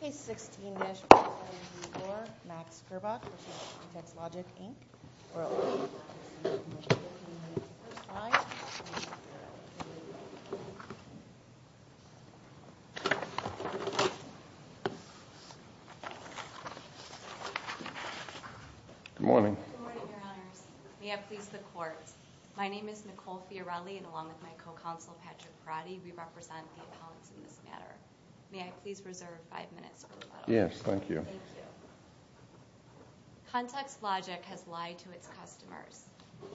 Case 16-4, Max Gerboc v. Contextlogic Inc. Good morning. Good morning, Your Honors. May I please the Court? My name is Nicole Fiorelli, and along with my co-counsel, Patrick Perotti, we represent the accounts in this matter. May I please reserve five minutes for rebuttal? Yes, thank you. Thank you. Contextlogic has lied to its customers.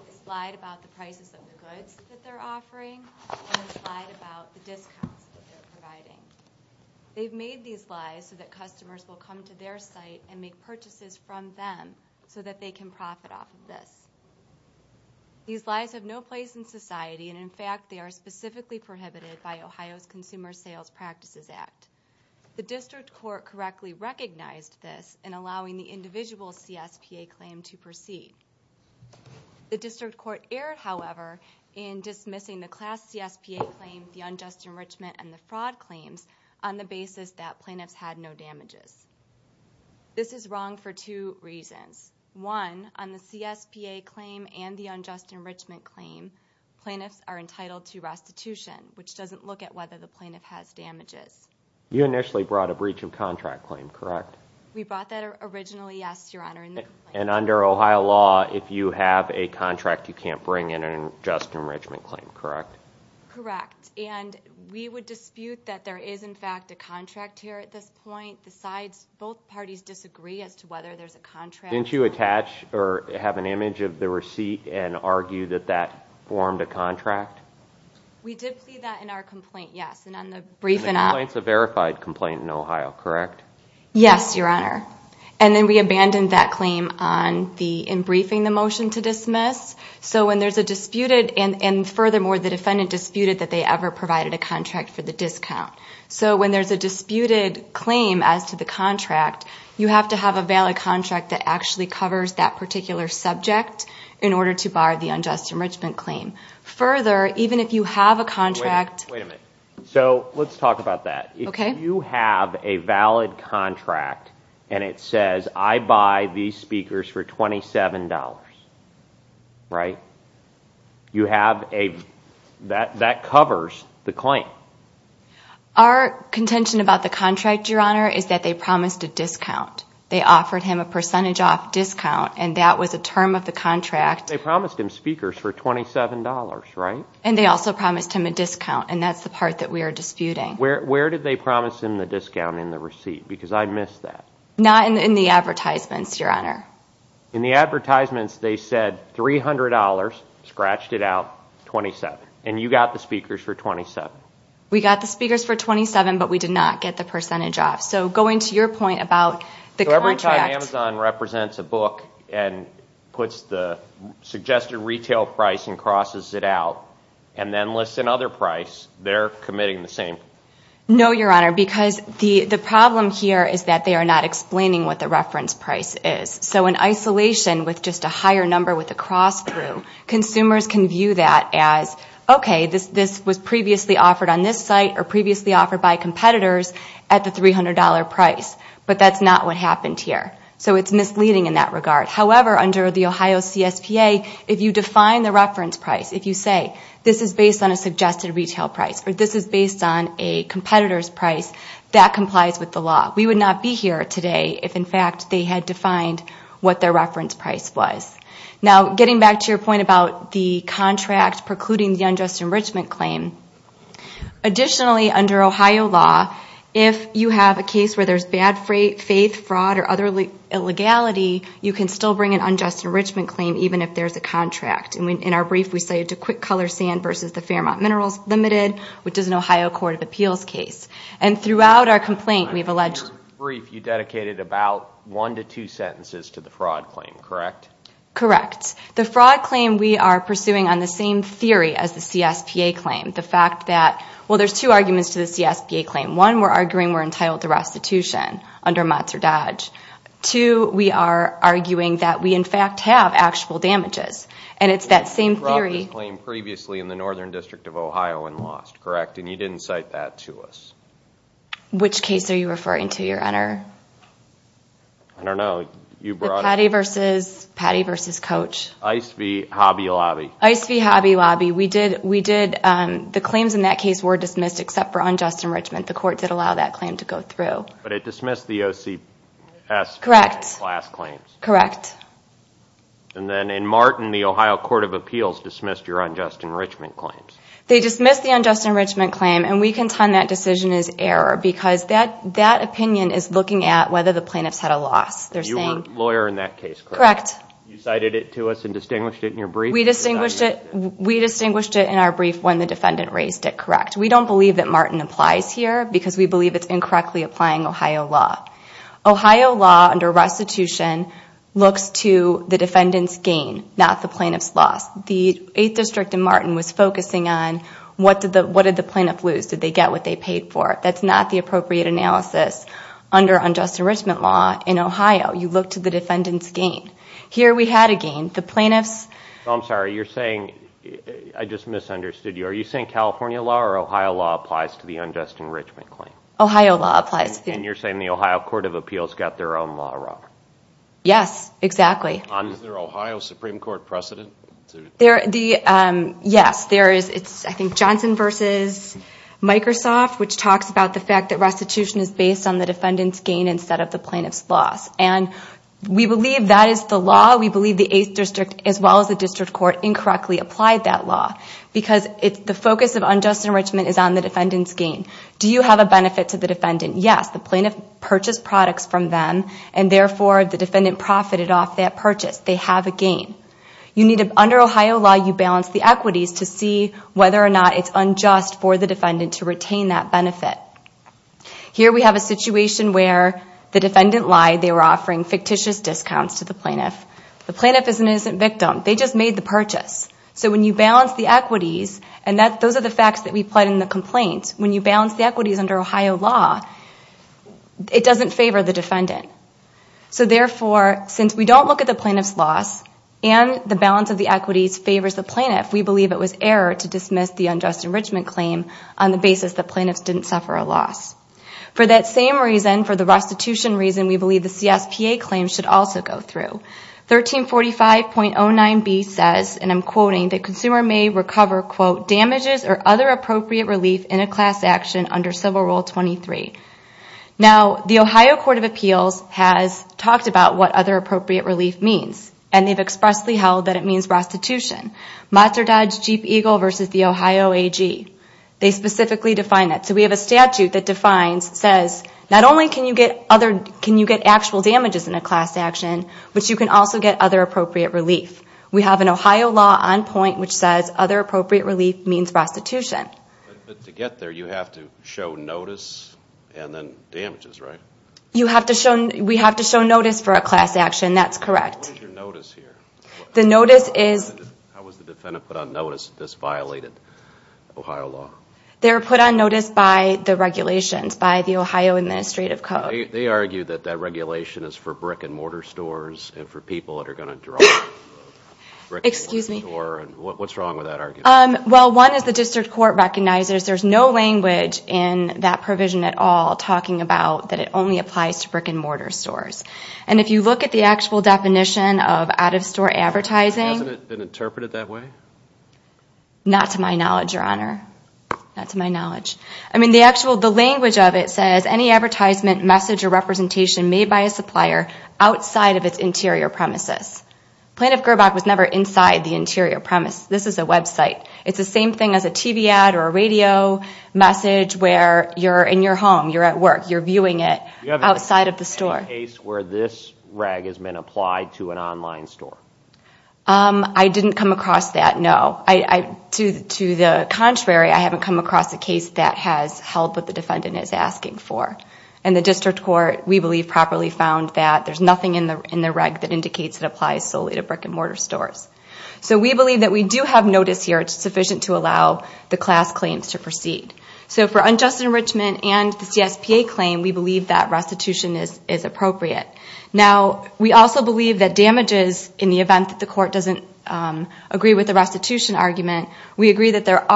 It's lied about the prices of the goods that they're offering, and it's lied about the discounts that they're providing. They've made these lies so that customers will come to their site and make purchases from them so that they can profit off of this. These lies have no place in society, and in fact, they are specifically prohibited by Ohio's Consumer Sales Practices Act. The district court correctly recognized this in allowing the individual CSPA claim to proceed. The district court erred, however, in dismissing the class CSPA claim, the unjust enrichment, and the fraud claims on the basis that plaintiffs had no damages. This is wrong for two reasons. One, on the CSPA claim and the unjust enrichment claim, plaintiffs are entitled to restitution, which doesn't look at whether the plaintiff has damages. You initially brought a breach of contract claim, correct? We brought that originally, yes, Your Honor. And under Ohio law, if you have a contract, you can't bring in an unjust enrichment claim, correct? Correct, and we would dispute that there is, in fact, a contract here at this point. Both parties disagree as to whether there's a contract. Didn't you attach or have an image of the receipt and argue that that formed a contract? We did plead that in our complaint, yes, and on the briefing. And the complaint's a verified complaint in Ohio, correct? Yes, Your Honor, and then we abandoned that claim in briefing the motion to dismiss. So when there's a disputed, and furthermore, the defendant disputed that they ever provided a contract for the discount. So when there's a disputed claim as to the contract, you have to have a valid contract that actually covers that particular subject in order to bar the unjust enrichment claim. Further, even if you have a contract. Wait a minute. So let's talk about that. Okay. If you have a valid contract and it says, I buy these speakers for $27, right, you have a, that covers the claim. Our contention about the contract, Your Honor, is that they promised a discount. They offered him a percentage off discount, and that was a term of the contract. They promised him speakers for $27, right? And they also promised him a discount, and that's the part that we are disputing. Where did they promise him the discount in the receipt? Because I missed that. Not in the advertisements, Your Honor. In the advertisements, they said $300, scratched it out, $27. And you got the speakers for $27. We got the speakers for $27, but we did not get the percentage off. So going to your point about the contract. So every time Amazon represents a book and puts the suggested retail price and crosses it out and then lists another price, they're committing the same? No, Your Honor, because the problem here is that they are not explaining what the reference price is. So in isolation with just a higher number with a cross through, consumers can view that as, okay, this was previously offered on this site or previously offered by competitors at the $300 price. But that's not what happened here. So it's misleading in that regard. However, under the Ohio CSPA, if you define the reference price, if you say this is based on a suggested retail price or this is based on a competitor's price, that complies with the law. We would not be here today if, in fact, they had defined what their reference price was. Now, getting back to your point about the contract precluding the unjust enrichment claim, additionally, under Ohio law, if you have a case where there's bad faith, fraud, or other illegality, you can still bring an unjust enrichment claim even if there's a contract. In our brief, we say it's a quick color sand versus the Fairmont Minerals Limited, which is an Ohio court of appeals case. And throughout our complaint, we've alleged... In your brief, you dedicated about one to two sentences to the fraud claim, correct? Correct. The fraud claim we are pursuing on the same theory as the CSPA claim. The fact that, well, there's two arguments to the CSPA claim. One, we're arguing we're entitled to restitution under Matz or Dodge. Two, we are arguing that we, in fact, have actual damages. And it's that same theory... Correct, and you didn't cite that to us. Which case are you referring to, Your Honor? I don't know. The Patty versus Coach. Ice v. Hobby Lobby. Ice v. Hobby Lobby. The claims in that case were dismissed except for unjust enrichment. The court did allow that claim to go through. But it dismissed the OCS class claims. Correct. And then in Martin, the Ohio court of appeals dismissed your unjust enrichment claims. They dismissed the unjust enrichment claim, and we contend that decision is error because that opinion is looking at whether the plaintiffs had a loss. You were a lawyer in that case, correct? Correct. You cited it to us and distinguished it in your brief? We distinguished it in our brief when the defendant raised it, correct. We don't believe that Martin applies here because we believe it's incorrectly applying Ohio law. Ohio law under restitution looks to the defendant's gain, not the plaintiff's loss. The 8th District in Martin was focusing on what did the plaintiff lose? Did they get what they paid for? That's not the appropriate analysis under unjust enrichment law in Ohio. You look to the defendant's gain. Here we had a gain. The plaintiffs... I'm sorry, you're saying I just misunderstood you. Are you saying California law or Ohio law applies to the unjust enrichment claim? Ohio law applies. And you're saying the Ohio Court of Appeals got their own law wrong? Yes, exactly. Is there Ohio Supreme Court precedent? Yes, there is. It's, I think, Johnson v. Microsoft, which talks about the fact that restitution is based on the defendant's gain instead of the plaintiff's loss. And we believe that is the law. We believe the 8th District, as well as the District Court, incorrectly applied that law because the focus of unjust enrichment is on the defendant's gain. Do you have a benefit to the defendant? Yes. The plaintiff purchased products from them, and therefore the defendant profited off that purchase. They have a gain. Under Ohio law, you balance the equities to see whether or not it's unjust for the defendant to retain that benefit. Here we have a situation where the defendant lied. They were offering fictitious discounts to the plaintiff. The plaintiff is an innocent victim. They just made the purchase. So when you balance the equities, and those are the facts that we put in the complaint, when you balance the equities under Ohio law, it doesn't favor the defendant. So therefore, since we don't look at the plaintiff's loss and the balance of the equities favors the plaintiff, we believe it was error to dismiss the unjust enrichment claim on the basis that plaintiffs didn't suffer a loss. For that same reason, for the restitution reason, we believe the CSPA claim should also go through. 1345.09b says, and I'm quoting, that consumer may recover, quote, damages or other appropriate relief in a class action under Civil Rule 23. Now, the Ohio Court of Appeals has talked about what other appropriate relief means, and they've expressly held that it means restitution. Matzah Dodge Jeep Eagle versus the Ohio AG. They specifically define that. So we have a statute that defines, says, not only can you get actual damages in a class action, but you can also get other appropriate relief. We have an Ohio law on point which says other appropriate relief means restitution. But to get there, you have to show notice and then damages, right? You have to show, we have to show notice for a class action. That's correct. What is your notice here? The notice is. How was the defendant put on notice that this violated Ohio law? They were put on notice by the regulations, by the Ohio Administrative Code. They argue that that regulation is for brick-and-mortar stores and for people that are going to draw brick-and-mortar stores. What's wrong with that argument? Well, one is the district court recognizes there's no language in that provision at all talking about that it only applies to brick-and-mortar stores. And if you look at the actual definition of out-of-store advertising. Hasn't it been interpreted that way? Not to my knowledge, Your Honor. Not to my knowledge. I mean, the actual, the language of it says, any advertisement, message, or representation made by a supplier outside of its interior premises. Plaintiff Gerbach was never inside the interior premise. This is a website. It's the same thing as a TV ad or a radio message where you're in your home, you're at work, you're viewing it outside of the store. Do you have any case where this rag has been applied to an online store? I didn't come across that, no. To the contrary, I haven't come across a case that has held what the defendant is asking for. And the district court, we believe, properly found that there's nothing in the rag that indicates it applies solely to brick-and-mortar stores. So we believe that we do have notice here. It's sufficient to allow the class claims to proceed. So for unjust enrichment and the CSPA claim, we believe that restitution is appropriate. Now, we also believe that damages, in the event that the court doesn't agree with the restitution argument, we argue that there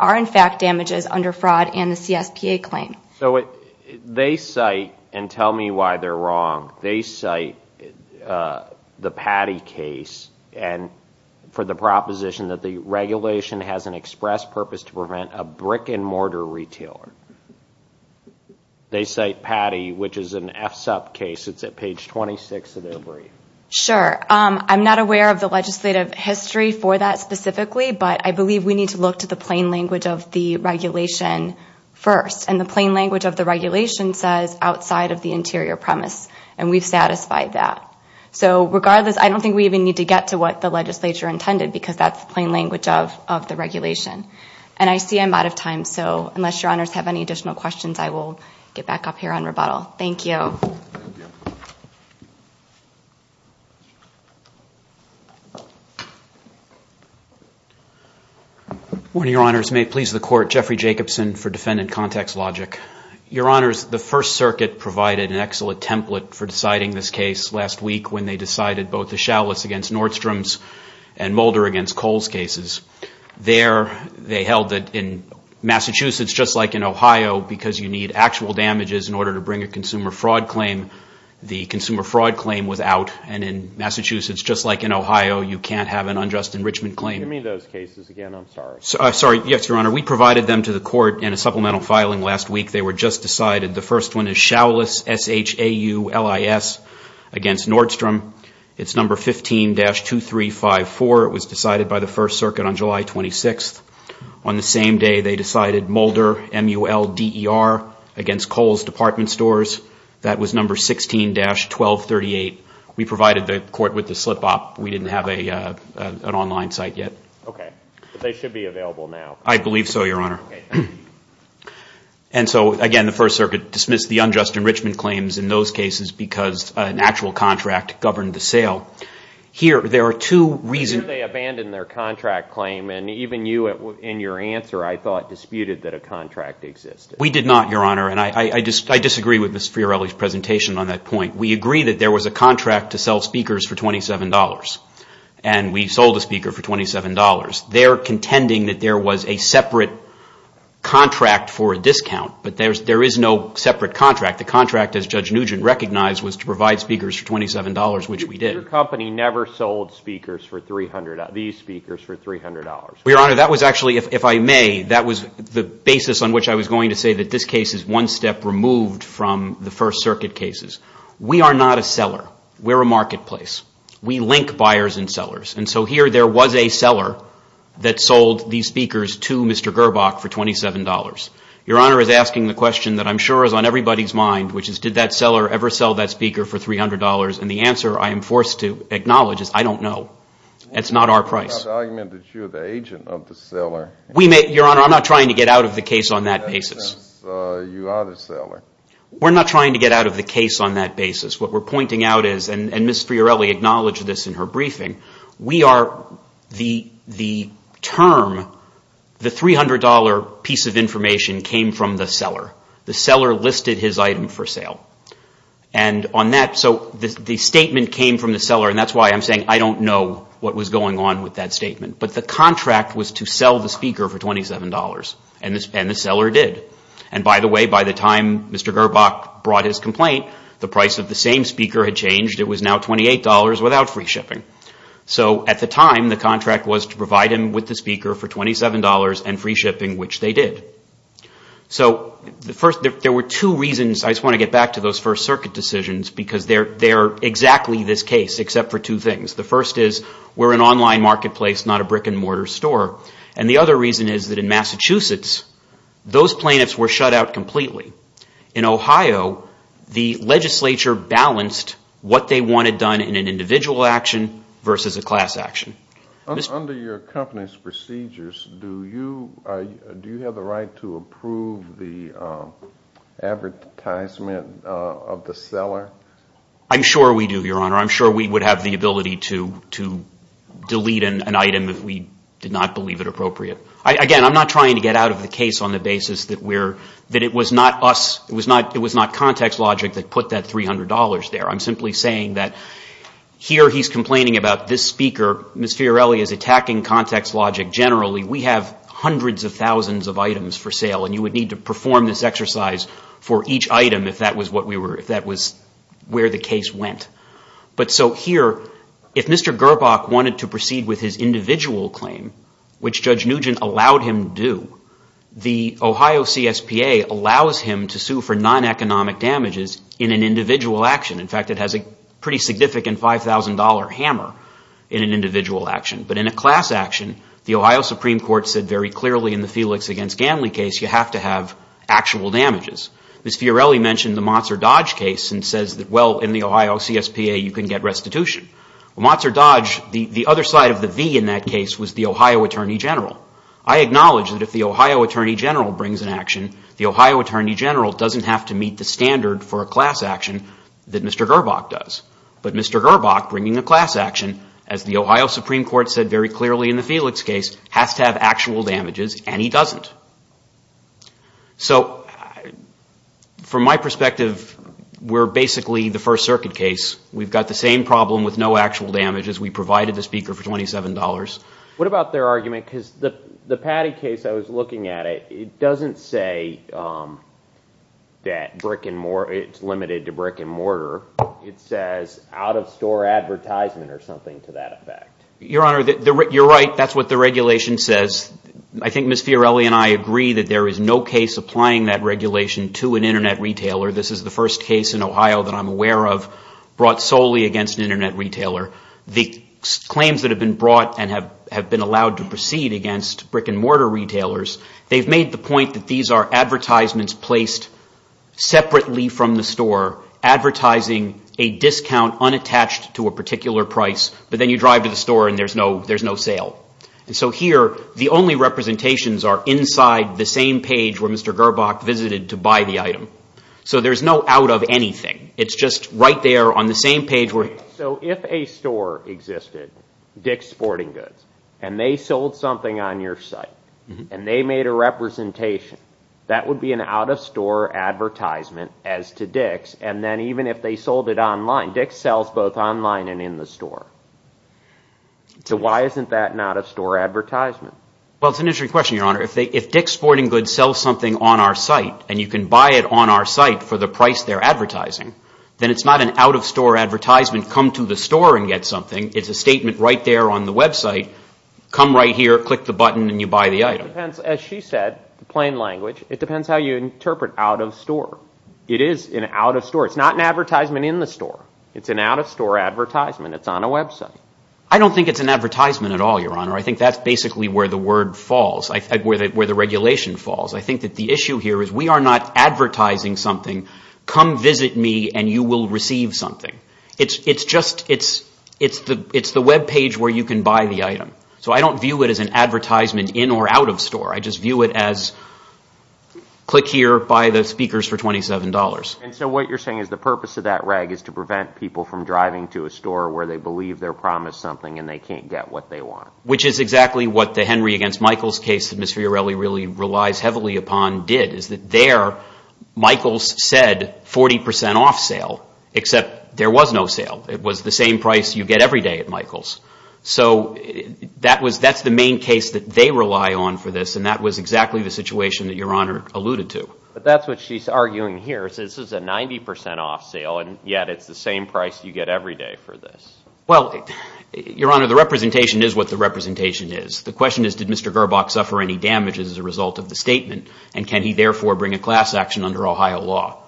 are, in fact, damages under fraud in the CSPA claim. So they cite, and tell me why they're wrong, they cite the Patty case for the proposition that the regulation has an express purpose to prevent a brick-and-mortar retailer. They cite Patty, which is an FSUP case. It's at page 26 of their brief. Sure. I'm not aware of the legislative history for that specifically, but I believe we need to look to the plain language of the regulation first. And the plain language of the regulation says outside of the interior premise, and we've satisfied that. So regardless, I don't think we even need to get to what the legislature intended because that's the plain language of the regulation. And I see I'm out of time, so unless your honors have any additional questions, I will get back up here on rebuttal. Thank you. Good morning, your honors. May it please the court, Jeffrey Jacobson for Defendant Context Logic. Your honors, the First Circuit provided an excellent template for deciding this case last week when they decided both the Chalice against Nordstrom's and Mulder against Cole's cases. There, they held that in Massachusetts, just like in Ohio, because you need actual damages in order to bring a consumer fraud claim, the consumer fraud claim was out. And in Massachusetts, just like in Ohio, you can't have an unjust enrichment claim. Give me those cases again. I'm sorry. Sorry. Yes, your honor. We provided them to the court in a supplemental filing last week. They were just decided. The first one is Chalice, S-H-A-U-L-I-S, against Nordstrom. It's number 15-2354. It was decided by the First Circuit on July 26th. On the same day, they decided Mulder, M-U-L-D-E-R, against Cole's department stores. That was number 16-1238. We provided the court with the slip-up. We didn't have an online site yet. Okay. But they should be available now. I believe so, your honor. And so, again, the First Circuit dismissed the unjust enrichment claims in those cases because an actual contract governed the sale. Here, there are two reasons. They abandoned their contract claim, and even you in your answer, I thought, disputed that a contract existed. We did not, your honor, and I disagree with Ms. Fiorelli's presentation on that point. We agree that there was a contract to sell speakers for $27, and we sold a speaker for $27. They're contending that there was a separate contract for a discount, but there is no separate contract. The contract, as Judge Nugent recognized, was to provide speakers for $27, which we did. Your company never sold speakers for $300, these speakers for $300. Your honor, that was actually, if I may, that was the basis on which I was going to say that this case is one step removed from the First Circuit cases. We are not a seller. We're a marketplace. We link buyers and sellers, and so here there was a seller that sold these speakers to Mr. Gerbach for $27. Your honor is asking the question that I'm sure is on everybody's mind, which is did that seller ever sell that speaker for $300, and the answer I am forced to acknowledge is I don't know. That's not our price. We're not arguing that you're the agent of the seller. Your honor, I'm not trying to get out of the case on that basis. You are the seller. We're not trying to get out of the case on that basis. What we're pointing out is, and Ms. Fiorelli acknowledged this in her briefing, we are the term, the $300 piece of information came from the seller. The seller listed his item for sale. And on that, so the statement came from the seller, and that's why I'm saying I don't know what was going on with that statement. But the contract was to sell the speaker for $27, and the seller did. And by the way, by the time Mr. Gerbach brought his complaint, the price of the same speaker had changed. It was now $28 without free shipping. So at the time, the contract was to provide him with the speaker for $27 and free shipping, which they did. So first, there were two reasons. I just want to get back to those First Circuit decisions, because they are exactly this case, except for two things. The first is, we're an online marketplace, not a brick-and-mortar store. And the other reason is that in Massachusetts, those plaintiffs were shut out completely. In Ohio, the legislature balanced what they wanted done in an individual action versus a class action. Under your company's procedures, do you have the right to approve the advertisement of the seller? I'm sure we do, Your Honor. I'm sure we would have the ability to delete an item if we did not believe it appropriate. Again, I'm not trying to get out of the case on the basis that it was not us, it was not context logic that put that $300 there. I'm simply saying that here he's complaining about this speaker. Ms. Fiorelli is attacking context logic generally. We have hundreds of thousands of items for sale, and you would need to perform this exercise for each item if that was where the case went. But so here, if Mr. Gerbach wanted to proceed with his individual claim, which Judge Nugent allowed him to do, the Ohio CSPA allows him to sue for non-economic damages in an individual action. In fact, it has a pretty significant $5,000 hammer in an individual action. But in a class action, the Ohio Supreme Court said very clearly in the Felix v. Ganley case, you have to have actual damages. Ms. Fiorelli mentioned the Motts or Dodge case and says that, well, in the Ohio CSPA you can get restitution. Motts or Dodge, the other side of the V in that case was the Ohio Attorney General. The Ohio Attorney General doesn't have to meet the standard for a class action that Mr. Gerbach does. But Mr. Gerbach bringing a class action, as the Ohio Supreme Court said very clearly in the Felix case, has to have actual damages, and he doesn't. So from my perspective, we're basically the First Circuit case. We've got the same problem with no actual damages. We provided the speaker for $27. What about their argument, because the Patty case I was looking at, it doesn't say that it's limited to brick and mortar. It says out-of-store advertisement or something to that effect. Your Honor, you're right. That's what the regulation says. I think Ms. Fiorelli and I agree that there is no case applying that regulation to an Internet retailer. This is the first case in Ohio that I'm aware of brought solely against an Internet retailer. The claims that have been brought and have been allowed to proceed against brick and mortar retailers, they've made the point that these are advertisements placed separately from the store, advertising a discount unattached to a particular price, but then you drive to the store and there's no sale. So here, the only representations are inside the same page where Mr. Gerbach visited to buy the item. So there's no out-of-anything. It's just right there on the same page. So if a store existed, Dick's Sporting Goods, and they sold something on your site, and they made a representation, that would be an out-of-store advertisement as to Dick's, and then even if they sold it online, Dick's sells both online and in the store. So why isn't that an out-of-store advertisement? Well, it's an interesting question, Your Honor. If Dick's Sporting Goods sells something on our site and you can buy it on our site for the price they're advertising, then it's not an out-of-store advertisement, come to the store and get something. It's a statement right there on the website, come right here, click the button, and you buy the item. It depends, as she said, plain language, it depends how you interpret out-of-store. It is an out-of-store. It's not an advertisement in the store. It's an out-of-store advertisement. It's on a website. I don't think it's an advertisement at all, Your Honor. I think that's basically where the word falls, where the regulation falls. I think that the issue here is we are not advertising something, come visit me and you will receive something. It's just, it's the webpage where you can buy the item. So I don't view it as an advertisement in or out of store. I just view it as click here, buy the speakers for $27. And so what you're saying is the purpose of that reg is to prevent people from driving to a store where they believe they're promised something and they can't get what they want. Which is exactly what the Henry against Michaels case that Ms. Fiorelli really relies heavily upon did, is that there, Michaels said 40% off sale, except there was no sale. It was the same price you get every day at Michaels. So that was, that's the main case that they rely on for this, and that was exactly the situation that Your Honor alluded to. But that's what she's arguing here is this is a 90% off sale, and yet it's the same price you get every day for this. Well, Your Honor, the representation is what the representation is. The question is did Mr. Gerbach suffer any damages as a result of the statement, and can he therefore bring a class action under Ohio law?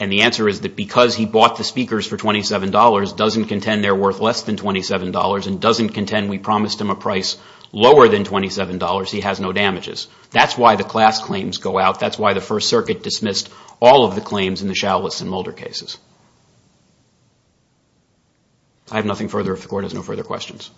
And the answer is that because he bought the speakers for $27 doesn't contend they're worth less than $27 and doesn't contend we promised him a price lower than $27, he has no damages. That's why the class claims go out. That's why the First Circuit dismissed all of the claims in the Chalice and Mulder cases. I have nothing further, if the Court has no further questions.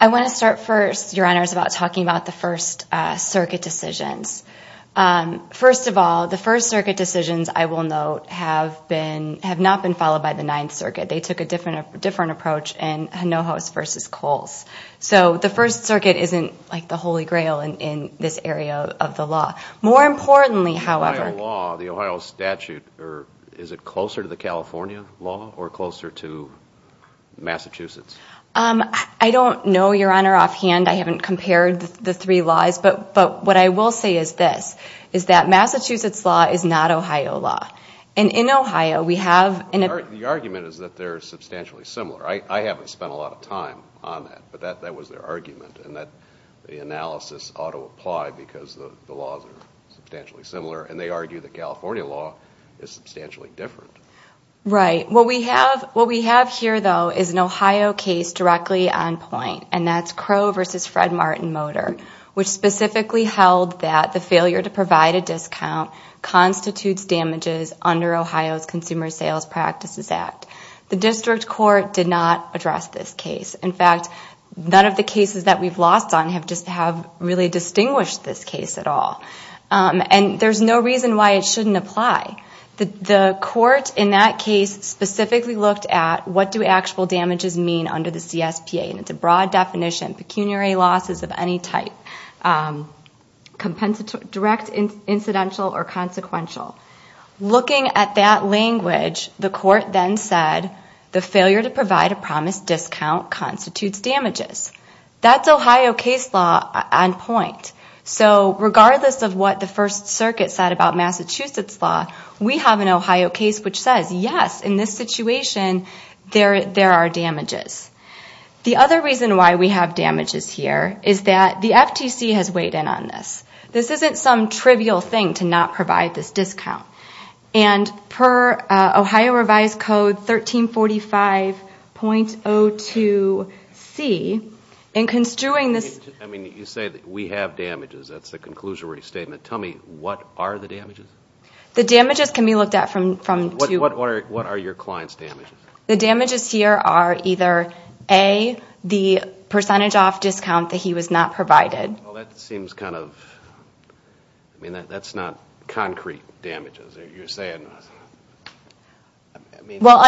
I want to start first, Your Honors, about talking about the First Circuit decisions. First of all, the First Circuit decisions, I will note, have not been followed by the Ninth Circuit. They took a different approach in Hinojos v. Coles. So the First Circuit isn't like the Holy Grail in this area of the law. More importantly, however... The Ohio law, the Ohio statute, is it closer to the California law or closer to Massachusetts? I don't know, Your Honor, offhand. I haven't compared the three laws. But what I will say is this, is that Massachusetts law is not Ohio law. And in Ohio, we have... The argument is that they're substantially similar. I haven't spent a lot of time on that, but that was their argument, and that the analysis ought to apply because the laws are substantially similar. And they argue that California law is substantially different. Right. What we have here, though, is an Ohio case directly on point, and that's Crow v. Fred Martin-Motor, which specifically held that the failure to provide a discount constitutes damages under Ohio's Consumer Sales Practices Act. The district court did not address this case. In fact, none of the cases that we've lost on have really distinguished this case at all. And there's no reason why it shouldn't apply. The court in that case specifically looked at what do actual damages mean under the CSPA. And it's a broad definition. Pecuniary losses of any type, direct, incidental, or consequential. Looking at that language, the court then said, the failure to provide a promised discount constitutes damages. That's Ohio case law on point. So regardless of what the First Circuit said about Massachusetts law, we have an Ohio case which says, yes, in this situation, there are damages. The other reason why we have damages here is that the FTC has weighed in on this. This isn't some trivial thing to not provide this discount. And per Ohio Revised Code 1345.02c, in construing this ---- I mean, you say that we have damages. That's the conclusory statement. Tell me, what are the damages? The damages can be looked at from two ---- What are your client's damages? The damages here are either, A, the percentage off discount that he was not provided. Well, that seems kind of ---- I mean, that's not concrete damages. You're saying ---- Well,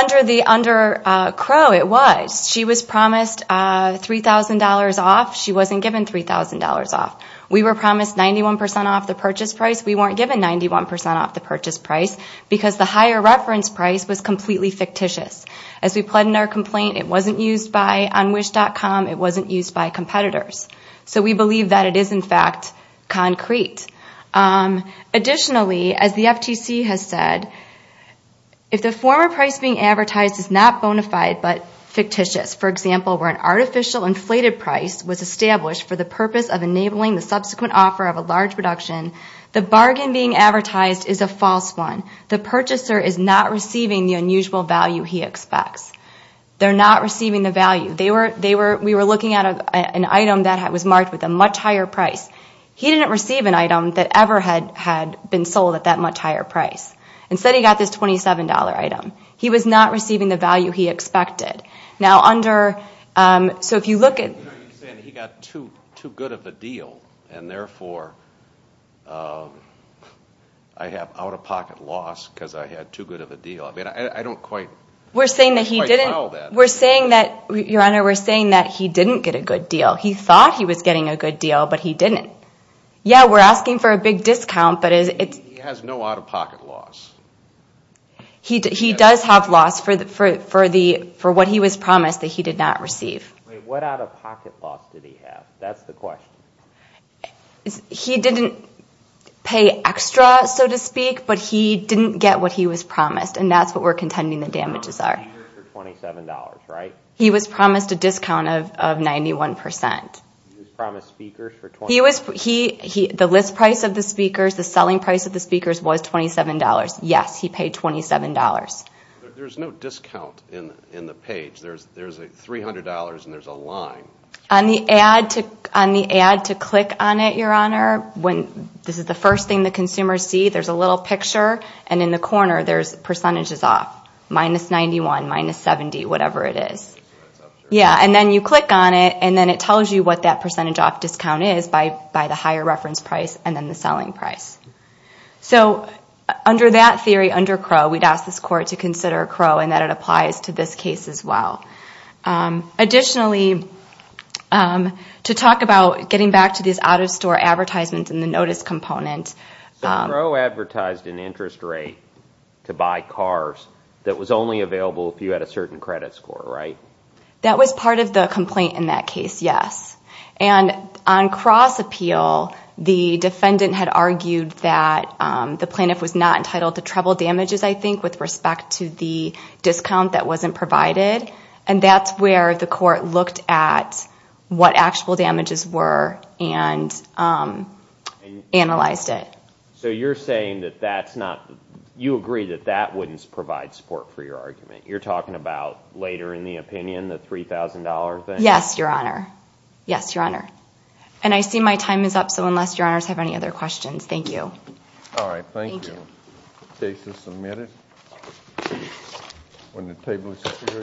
under Crowe, it was. She was promised $3,000 off. She wasn't given $3,000 off. We were promised 91% off the purchase price. We weren't given 91% off the purchase price because the higher reference price was completely fictitious. As we pled in our complaint, it wasn't used by Unwish.com. It wasn't used by competitors. So we believe that it is, in fact, concrete. Additionally, as the FTC has said, if the former price being advertised is not bona fide but fictitious, for example, where an artificial inflated price was established for the purpose of enabling the subsequent offer of a large production, the bargain being advertised is a false one. The purchaser is not receiving the unusual value he expects. They're not receiving the value. We were looking at an item that was marked with a much higher price. He didn't receive an item that ever had been sold at that much higher price. Instead, he got this $27 item. He was not receiving the value he expected. You're saying that he got too good of a deal and, therefore, I have out-of-pocket loss because I had too good of a deal. I don't quite follow that. Your Honor, we're saying that he didn't get a good deal. He thought he was getting a good deal, but he didn't. Yeah, we're asking for a big discount. He has no out-of-pocket loss. He does have loss for what he was promised that he did not receive. Wait, what out-of-pocket loss did he have? That's the question. He didn't pay extra, so to speak, but he didn't get what he was promised, and that's what we're contending the damages are. He was promised speakers for $27, right? He was promised a discount of 91%. He was promised speakers for $27. The list price of the speakers, the selling price of the speakers was $27. Yes, he paid $27. There's no discount in the page. There's $300, and there's a line. On the ad to click on it, Your Honor, this is the first thing the consumers see. There's a little picture, and in the corner, there's percentages off, minus 91, minus 70, whatever it is. Then you click on it, and then it tells you what that percentage off discount is by the higher reference price and then the selling price. Under that theory, under Crow, we'd ask this Court to consider Crow and that it applies to this case as well. Additionally, to talk about getting back to these out-of-store advertisements and the notice component. Crow advertised an interest rate to buy cars that was only available if you had a certain credit score, right? That was part of the complaint in that case, yes. On cross-appeal, the defendant had argued that the plaintiff was not entitled to treble damages, I think, with respect to the discount that wasn't provided. That's where the Court looked at what actual damages were and analyzed it. So you're saying that that's not – you agree that that wouldn't provide support for your argument. You're talking about later in the opinion, the $3,000 thing? Yes, Your Honor. Yes, Your Honor. I see my time is up, so unless Your Honors have any other questions, thank you. All right, thank you. Thank you. The case is submitted. When the table is superior, you may call the next case.